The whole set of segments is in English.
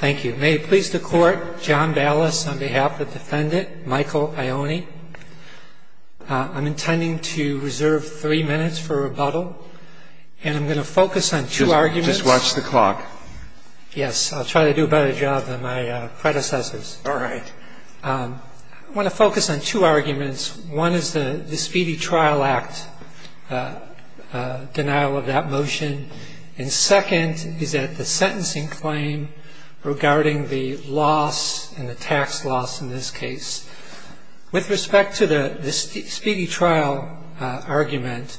May it please the Court, John Dallas on behalf of the defendant Michael Ioane. I'm intending to reserve three minutes for rebuttal, and I'm going to focus on two arguments. Just watch the clock. Yes, I'll try to do a better job than my predecessors. All right. I want to focus on two arguments. One is the Speedy Trial Act denial of that motion, and second is that the sentencing claim regarding the loss and the tax loss in this case. With respect to the Speedy Trial argument,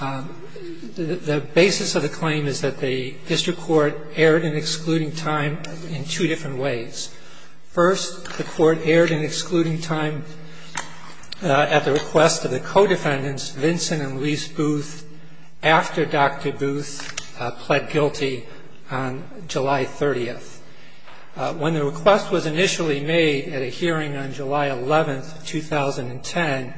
the basis of the claim is that the district court erred in excluding time in two different ways. First, the court erred in excluding time at the request of the co-defendants, Vincent and Lise Booth, after Dr. Booth pled guilty on July 30th. When the request was initially made at a hearing on July 11th, 2010,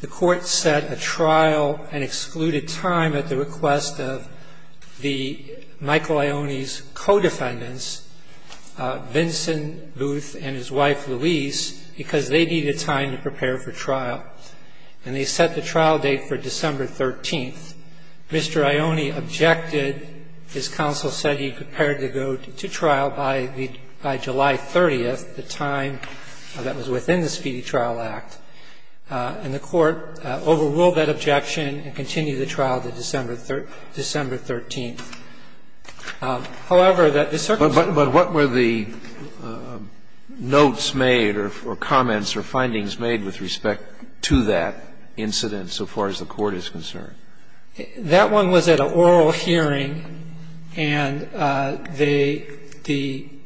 the court set a trial and excluded time at the request of the Michael Ioane's co-defendants, Vincent Booth and his wife Lise, because they needed time to prepare for trial, and they set the trial date for December 13th. Mr. Ioane objected. His counsel said he prepared to go to trial by July 30th, the time that was within the Speedy Trial Act, and the court overruled that objection and continued the trial to December 13th. However, that the circumstance But what were the notes made or comments or findings made with respect to that incident so far as the court is concerned? That one was at an oral hearing, and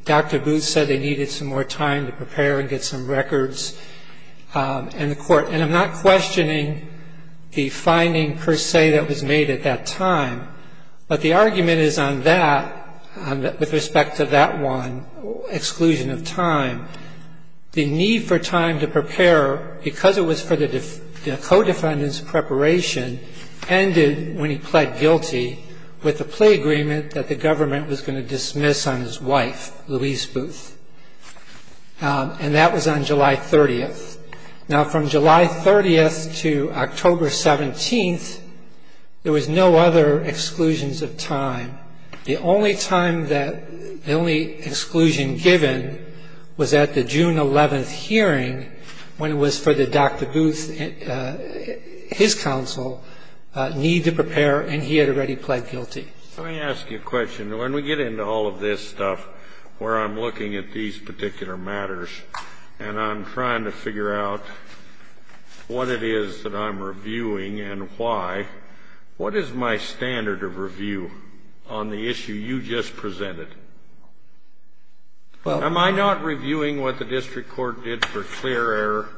Dr. Booth said they needed some more time to prepare and get some records, and I'm not questioning the finding per se that was made at that time, but the argument is on that, with respect to that one, exclusion of time. The need for time to prepare, because it was for the co-defendants' preparation, ended when he pled guilty with the plea agreement that the government was going to dismiss on his wife, Lise Booth, and that was on July 30th. Now, from July 30th to October 17th, there was no other exclusions of time. The only time that the only exclusion given was at the June 11th hearing, when it was for the Dr. Booth, his counsel, need to prepare, and he had already pled guilty. Let me ask you a question. When we get into all of this stuff, where I'm looking at these particular matters and I'm trying to figure out what it is that I'm reviewing and why, what is my standard of review on the issue you just presented? Am I not reviewing what the district court did for clear error?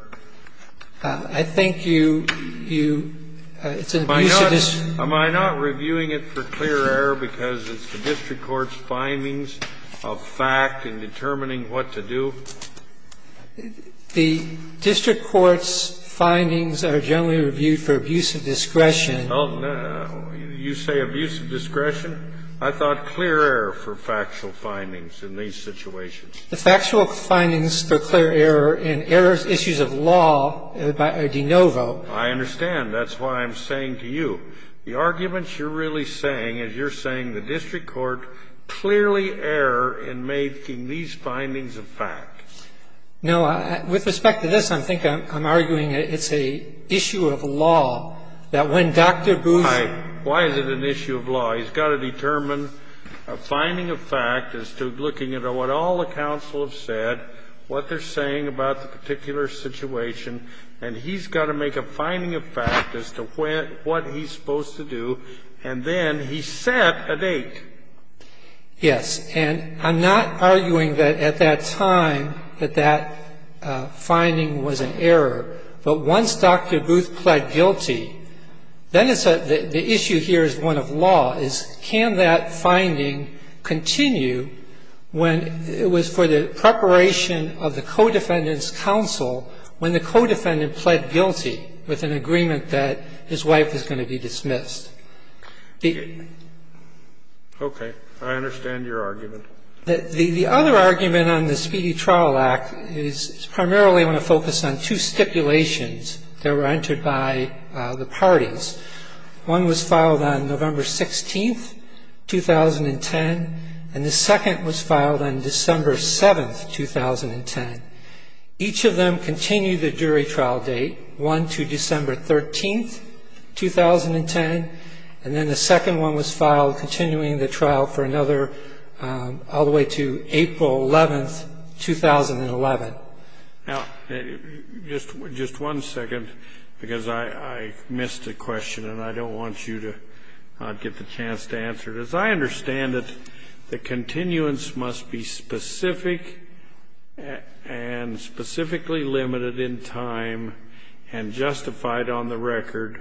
I think you, you, it's an abuse of discretion. Am I not reviewing it for clear error because it's the district court's findings of fact in determining what to do? The district court's findings are generally reviewed for abuse of discretion. Oh, no. You say abuse of discretion? I thought clear error for factual findings in these situations. The factual findings for clear error in error issues of law are de novo. I understand. That's why I'm saying to you, the arguments you're really saying is you're saying the district court clearly error in making these findings of fact. No. With respect to this, I think I'm arguing it's an issue of law that when Dr. Booth Why is it an issue of law? He's got to determine a finding of fact as to looking at what all the counsel have said, what they're saying about the particular situation, and he's got to make a finding of fact as to what he's supposed to do, and then he set a date. Yes. And I'm not arguing that at that time that that finding was an error. But once Dr. Booth pled guilty, then it's a the issue here is one of law is can that finding continue when it was for the preparation of the co-defendant's counsel when the co-defendant pled guilty with an agreement that his wife is going to be dismissed? Okay. I understand your argument. The other argument on the Speedy Trial Act is primarily going to focus on two stipulations that were entered by the parties. One was filed on November 16th, 2010, and the second was filed on December 7th, 2010. Each of them continued the jury trial date, one to December 13th, 2010, and then the second one was filed continuing the trial for another all the way to April 11th, 2011. Now, just one second, because I missed a question and I don't want you to not get the chance to answer it. Because I understand that the continuance must be specific and specifically limited in time and justified on the record,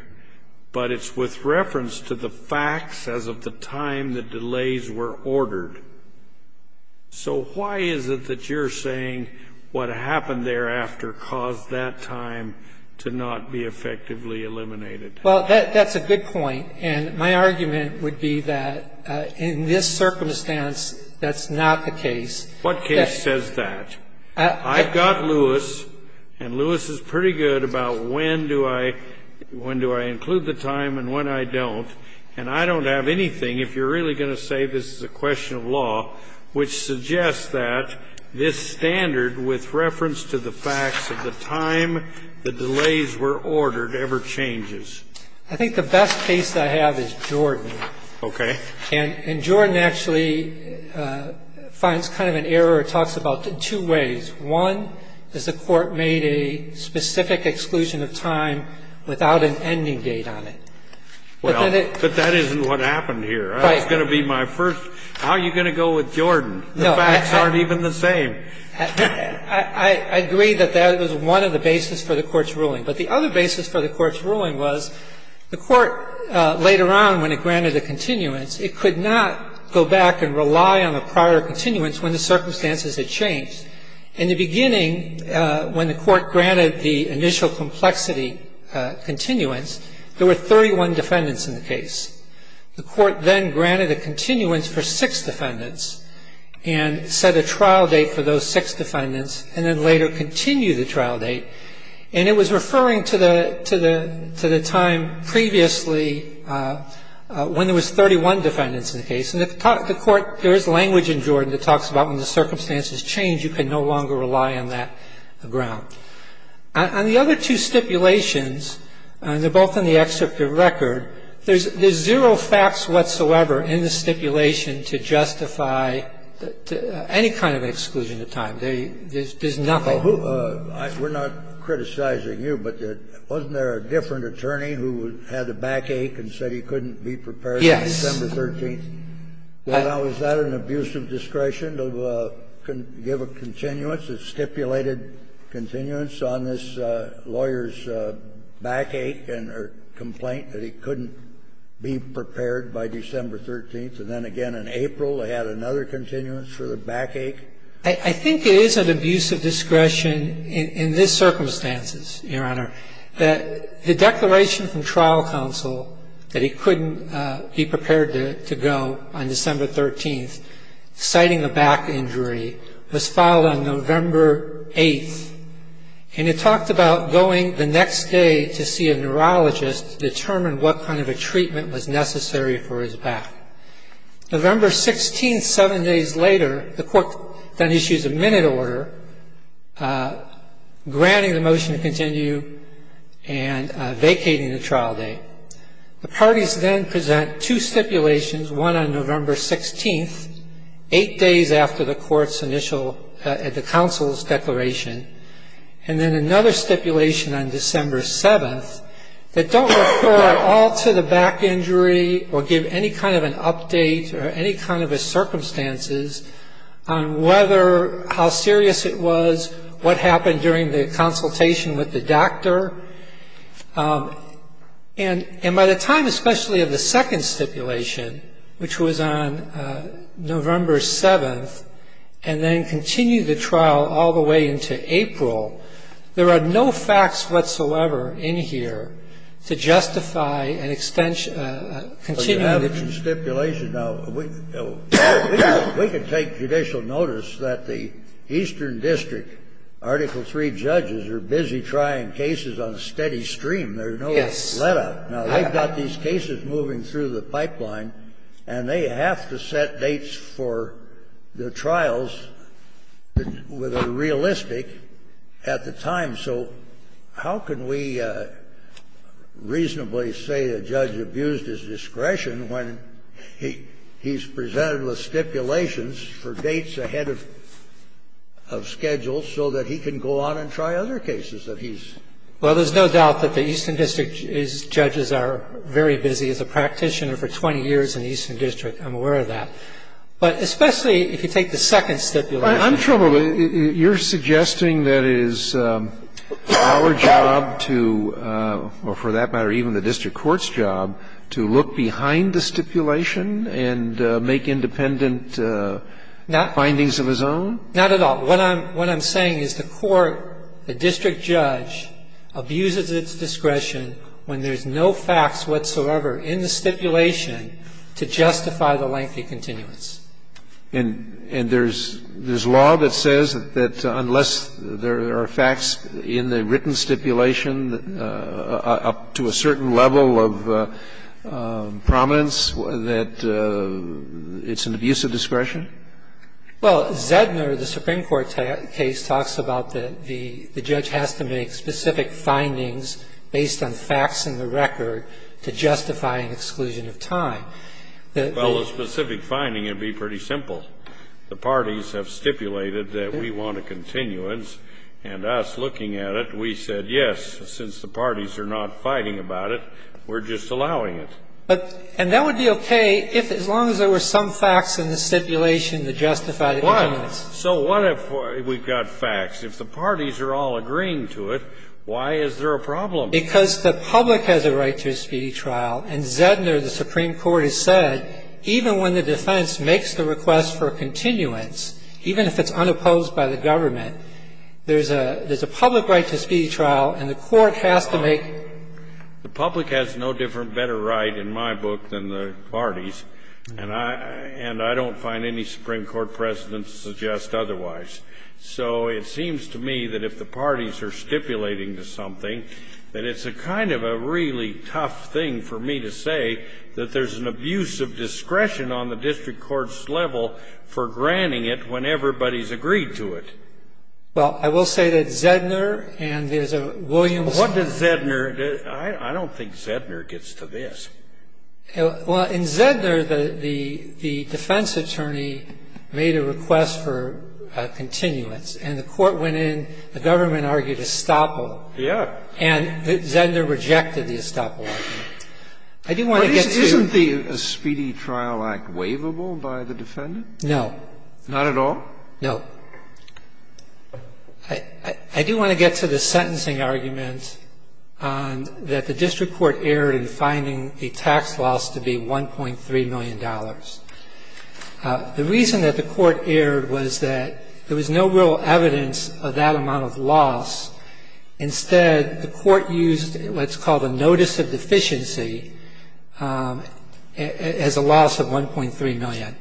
but it's with reference to the facts as of the time the delays were ordered. So why is it that you're saying what happened thereafter caused that time to not be effectively eliminated? Well, that's a good point. And my argument would be that in this circumstance, that's not the case. What case says that? I've got Lewis, and Lewis is pretty good about when do I include the time and when I don't. And I don't have anything, if you're really going to say this is a question of law, which suggests that this standard with reference to the facts of the time the delays were ordered ever changes. I think the best case I have is Jordan. Okay. And Jordan actually finds kind of an error or talks about it in two ways. One is the Court made a specific exclusion of time without an ending date on it. Well, but that isn't what happened here. Right. It's not going to be my first question. It's going to be my first, how are you going to go with Jordan? The facts aren't even the same. I agree that that was one of the bases for the Court's ruling. But the other basis for the Court's ruling was the Court later on when it granted a continuance, it could not go back and rely on the prior continuance when the circumstances had changed, in the beginning when the Court granted the initial complexity continuance, there were 31 defendants in the case. The Court then granted a continuance for six defendants and set a trial date for those six defendants and then later continued the trial date. And it was referring to the time previously when there was 31 defendants in the case. And the Court, there is language in Jordan that talks about when the circumstances change, you can no longer rely on that ground. On the other two stipulations, and they're both in the excerpt of record, there's zero facts whatsoever in the stipulation to justify any kind of exclusion of time. There's nothing. We're not criticizing you, but wasn't there a different attorney who had a backache and said he couldn't be prepared on December 13th? Was that an abuse of discretion to give a continuance, a stipulated continuance on this lawyer's backache and her complaint that he couldn't be prepared by December 13th, and then again in April they had another continuance for the backache? I think it is an abuse of discretion in this circumstances, Your Honor, that the declaration from trial counsel that he couldn't be prepared to go on December 13th, citing a back injury, was filed on November 8th. And it talked about going the next day to see a neurologist to determine what kind of a treatment was necessary for his back. November 16th, seven days later, the Court then issues a minute order granting the trial date. The parties then present two stipulations, one on November 16th, eight days after the court's initial, the counsel's declaration, and then another stipulation on December 7th that don't refer at all to the back injury or give any kind of an update or any kind of a circumstances on whether, how serious it was, what happened during the consultation with the doctor. And by the time, especially of the second stipulation, which was on November 7th, and then continue the trial all the way into April, there are no facts whatsoever in here to justify an extension of the continuity. Well, you have the stipulation. Now, we can take judicial notice that the Eastern District Article III judges are busy trying cases on a steady stream. There's no letup. Now, they've got these cases moving through the pipeline, and they have to set dates for the trials with a realistic at the time. So how can we reasonably say a judge abused his discretion when he's presented with stipulations for dates ahead of schedule so that he can go on and try other cases that he's? Well, there's no doubt that the Eastern District judges are very busy as a practitioner for 20 years in the Eastern District. I'm aware of that. But especially if you take the second stipulation. I'm troubled. You're suggesting that it is our job to, or for that matter even the district court's job, to look behind the stipulation and make independent findings of his own? Not at all. What I'm saying is the court, the district judge abuses its discretion when there's no facts whatsoever in the stipulation to justify the lengthy continuance. And there's law that says that unless there are facts in the written stipulation up to a certain level of prominence, that it's an abuse of discretion? Well, Zedner, the Supreme Court case, talks about that the judge has to make specific findings based on facts in the record to justify an exclusion of time. Well, the specific finding would be pretty simple. The parties have stipulated that we want a continuance, and us looking at it, we said yes. Since the parties are not fighting about it, we're just allowing it. But, and that would be okay if, as long as there were some facts in the stipulation to justify the continuance. Why? So what if we've got facts? If the parties are all agreeing to it, why is there a problem? Because the public has a right to a speedy trial. In Zedner, the Supreme Court has said even when the defense makes the request for a continuance, even if it's unopposed by the government, there's a public right to a speedy trial, and the court has to make. The public has no different, better right in my book than the parties. And I don't find any Supreme Court precedent to suggest otherwise. So it seems to me that if the parties are stipulating to something, that it's a kind of a really tough thing for me to say that there's an abuse of discretion on the district court's level for granting it when everybody's agreed to it. Well, I will say that Zedner and there's a Williams. What did Zedner? I don't think Zedner gets to this. Well, in Zedner, the defense attorney made a request for a continuance, and the court went in, the government argued estoppel. Yeah. And Zedner rejected the estoppel argument. I do want to get to the... Isn't the Speedy Trial Act waivable by the defendant? No. Not at all? No. I do want to get to the sentencing argument that the district court erred in finding the tax loss to be $1.3 million. The reason that the court erred was that there was no real evidence of that amount of loss. Instead, the court used what's called a notice of deficiency as a loss of $1.3 million.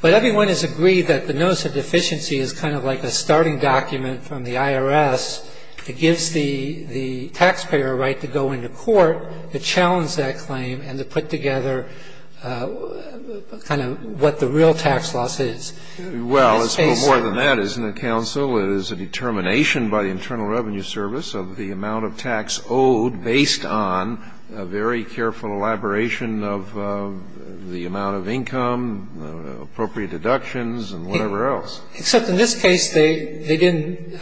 But everyone has agreed that the notice of deficiency is kind of like a starting document from the IRS. It gives the taxpayer a right to go into court to challenge that claim and to put together kind of what the real tax loss is. Well, it's more than that, isn't it, counsel? It is a determination by the Internal Revenue Service of the amount of tax owed based on a very careful elaboration of the amount of income, appropriate deductions and whatever else. Except in this case, they didn't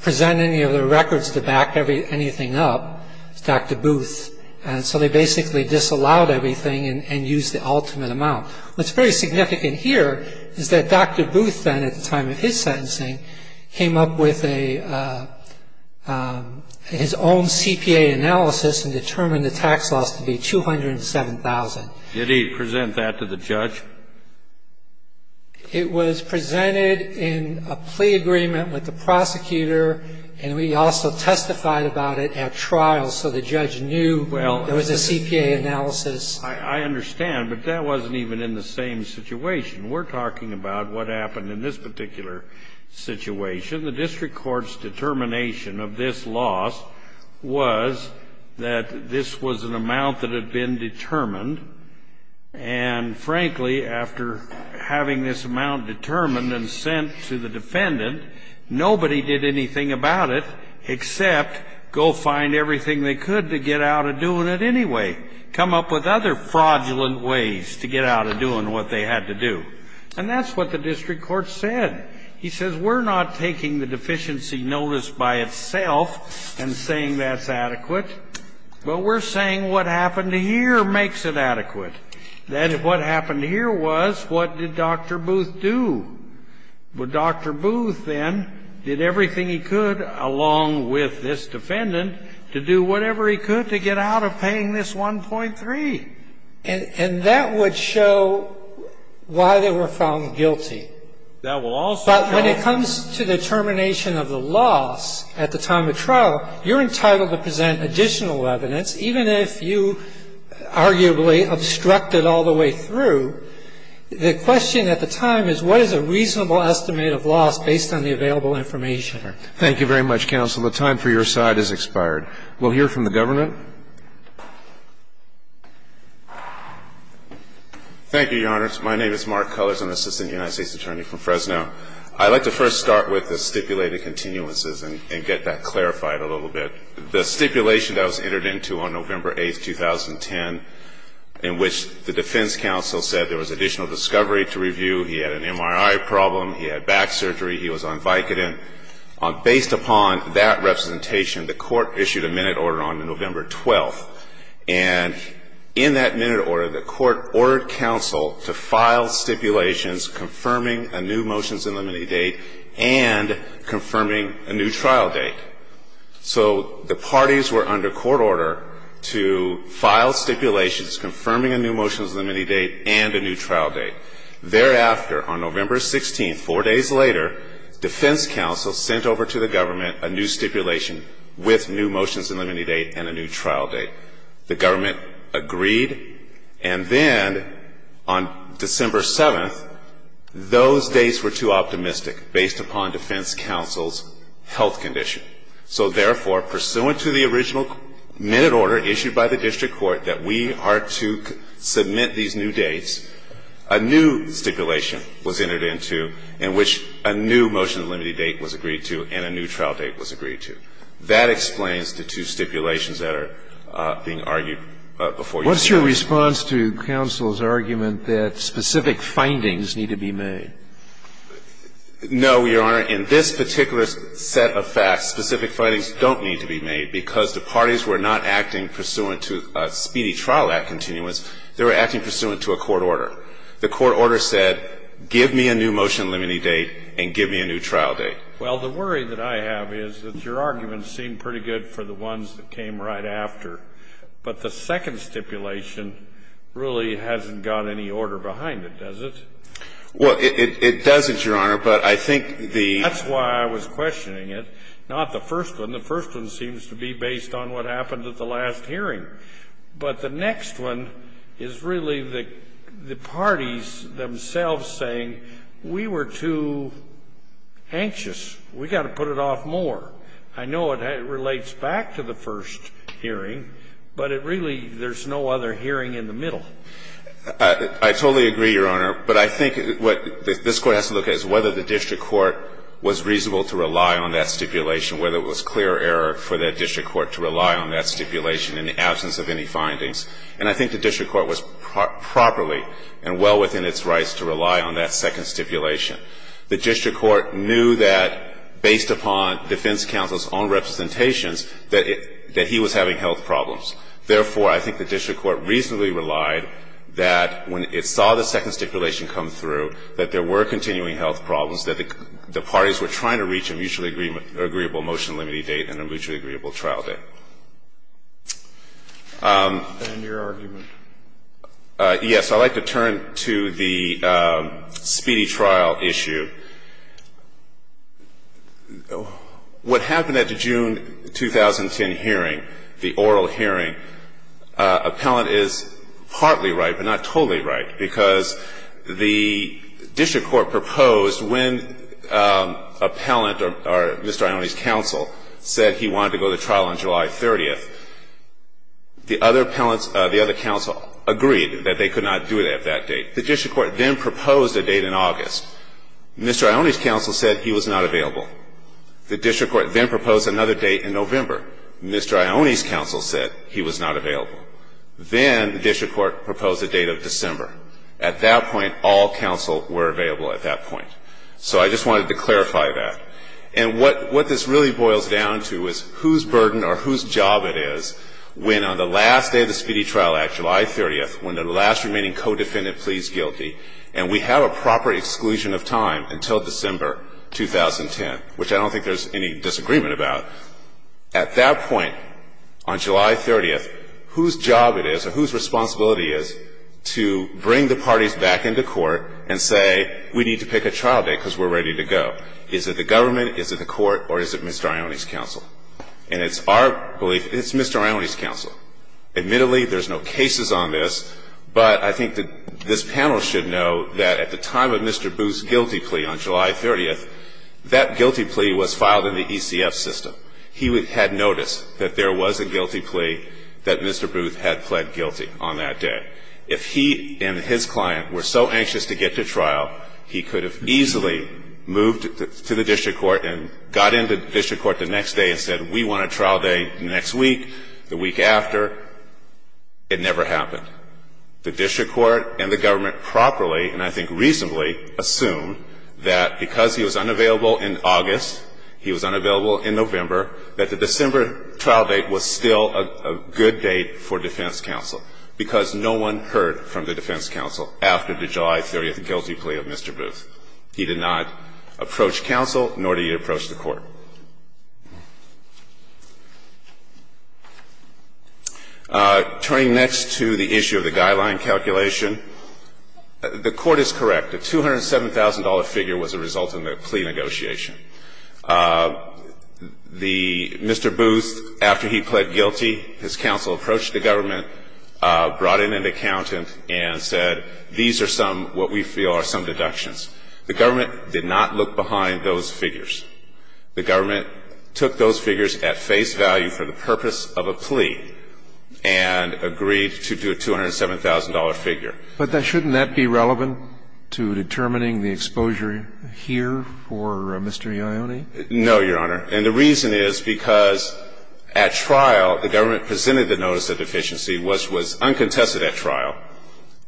present any of the records to back anything up. It's Dr. Booth. And so they basically disallowed everything and used the ultimate amount. What's very significant here is that Dr. Booth then, at the time of his sentencing, came up with a his own CPA analysis and determined the tax loss to be $207,000. Did he present that to the judge? It was presented in a plea agreement with the prosecutor, and we also testified about it at trial so the judge knew there was a CPA analysis. I understand, but that wasn't even in the same situation. We're talking about what happened in this particular situation. The district court's determination of this loss was that this was an amount that had been determined. And frankly, after having this amount determined and sent to the defendant, nobody did anything about it except go find everything they could to get out of doing it anyway, come up with other fraudulent ways to get out of doing what they had to do. And that's what the district court said. He says, we're not taking the deficiency notice by itself and saying that's adequate, but we're saying what happened here makes it adequate. Then what happened here was, what did Dr. Booth do? Well, Dr. Booth then did everything he could along with this defendant to do whatever he could to get out of paying this 1.3. And that would show why they were found guilty. That will also show. But when it comes to the determination of the loss at the time of trial, you're entitled to present additional evidence, even if you arguably obstruct it all the way through. The question at the time is, what is a reasonable estimate of loss based on the available information? Thank you very much, counsel. The time for your side has expired. We'll hear from the government. Thank you, Your Honors. My name is Mark Cullors. I'm the Assistant United States Attorney from Fresno. I'd like to first start with the stipulated continuances and get that clarified a little bit. The stipulation that was entered into on November 8, 2010, in which the defense counsel said there was additional discovery to review, he had an MRI problem, he had back surgery, he was on Vicodin. Based upon that representation, the court issued a minute order on November 12. And in that minute order, the court ordered counsel to file stipulations confirming a new motion in the minute date and confirming a new trial date. So the parties were under court order to file stipulations confirming a new motion in the minute date and a new trial date. Thereafter, on November 16, four days later, defense counsel sent over to the government a new stipulation with new motions in the minute date and a new trial date. The government agreed. And then on December 7th, those dates were too optimistic based upon defense counsel's health condition. So therefore, pursuant to the original minute order issued by the district court that we are to submit these new dates, a new stipulation was entered into in which a new motion in the minute date was agreed to and a new trial date was agreed to. That explains the two stipulations that are being argued before you today. What's your response to counsel's argument that specific findings need to be made? No, Your Honor. In this particular set of facts, specific findings don't need to be made because the parties were not acting pursuant to a speedy trial act continuance. They were acting pursuant to a court order. The court order said, give me a new motion in the minute date and give me a new trial date. Well, the worry that I have is that your argument seemed pretty good for the ones that came right after. But the second stipulation really hasn't got any order behind it, does it? Well, it doesn't, Your Honor, but I think the ---- That's why I was questioning it, not the first one. The first one seems to be based on what happened at the last hearing. But the next one is really the parties themselves saying, we were too anxious. We've got to put it off more. I know it relates back to the first hearing, but it really ---- there's no other hearing in the middle. I totally agree, Your Honor. But I think what this Court has to look at is whether the district court was reasonable to rely on that stipulation, whether it was clear error for that district court to rely on that stipulation in the absence of any findings. And I think the district court was properly and well within its rights to rely on that second stipulation. The district court knew that, based upon defense counsel's own representations, that he was having health problems. Therefore, I think the district court reasonably relied that when it saw the second stipulation come through, that there were continuing health problems, that the parties were trying to reach a mutually agreeable motion limiting date and a mutually agreeable trial date. And your argument? Yes. I'd like to turn to the speedy trial issue. What happened at the June 2010 hearing, the oral hearing, appellant is partly right, but not totally right, because the district court proposed when appellant or Mr. Ione's counsel said he wanted to go to trial on July 30th, the other appellants, the other counsel, agreed that they could not do it at that date. The district court then proposed a date in August. Mr. Ione's counsel said he was not available. The district court then proposed another date in November. Mr. Ione's counsel said he was not available. Then the district court proposed a date of December. At that point, all counsel were available at that point. So I just wanted to clarify that. And what this really boils down to is whose burden or whose job it is when on the last day of the Speedy Trial Act, July 30th, when the last remaining co-defendant pleads guilty, and we have a proper exclusion of time until December 2010, which I don't think there's any disagreement about, at that point on July 30th, whose job it is or whose responsibility it is to bring the parties back into court and say we need to pick a trial date because we're ready to go. Is it the government, is it the court, or is it Mr. Ione's counsel? Admittedly, there's no cases on this, but I think that this panel should know that at the time of Mr. Booth's guilty plea on July 30th, that guilty plea was filed in the ECF system. He had noticed that there was a guilty plea that Mr. Booth had pled guilty on that day. If he and his client were so anxious to get to trial, he could have easily moved to the district court and got into district court the next day and said we want a trial date. In fact, it never happened. The district court and the government properly, and I think reasonably, assumed that because he was unavailable in August, he was unavailable in November, that the December trial date was still a good date for defense counsel, because no one heard from the defense counsel after the July 30th guilty plea of Mr. Booth. He did not approach counsel, nor did he approach the court. Turning next to the issue of the guideline calculation, the court is correct. The $207,000 figure was a result of the plea negotiation. The Mr. Booth, after he pled guilty, his counsel approached the government, brought in an accountant and said these are some, what we feel are some deductions. The government did not look behind those figures. The government took those figures at face value for the purpose of a plea and agreed to do a $207,000 figure. But shouldn't that be relevant to determining the exposure here for Mr. Ioni? No, Your Honor. And the reason is because at trial, the government presented the notice of deficiency, which was uncontested at trial,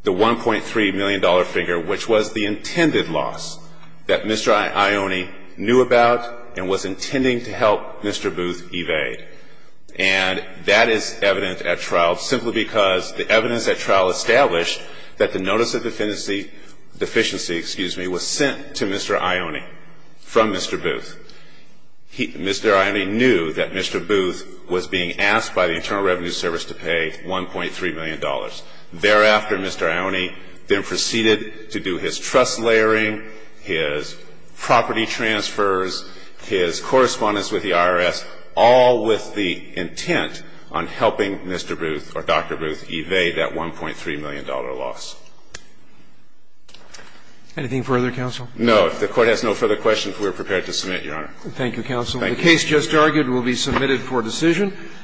the $1.3 million figure, which was the intended loss that Mr. Ioni knew about and was intending to help Mr. Booth evade. And that is evident at trial simply because the evidence at trial established that the notice of deficiency was sent to Mr. Ioni from Mr. Booth. Mr. Ioni knew that Mr. Booth was being asked by the Internal Revenue Service to pay $1.3 million. Thereafter, Mr. Ioni then proceeded to do his trust layering, his property transfers, his correspondence with the IRS, all with the intent on helping Mr. Booth or Dr. Booth evade that $1.3 million loss. Anything further, counsel? No. If the Court has no further questions, we are prepared to submit, Your Honor. Thank you, counsel. The case just argued will be submitted for decision.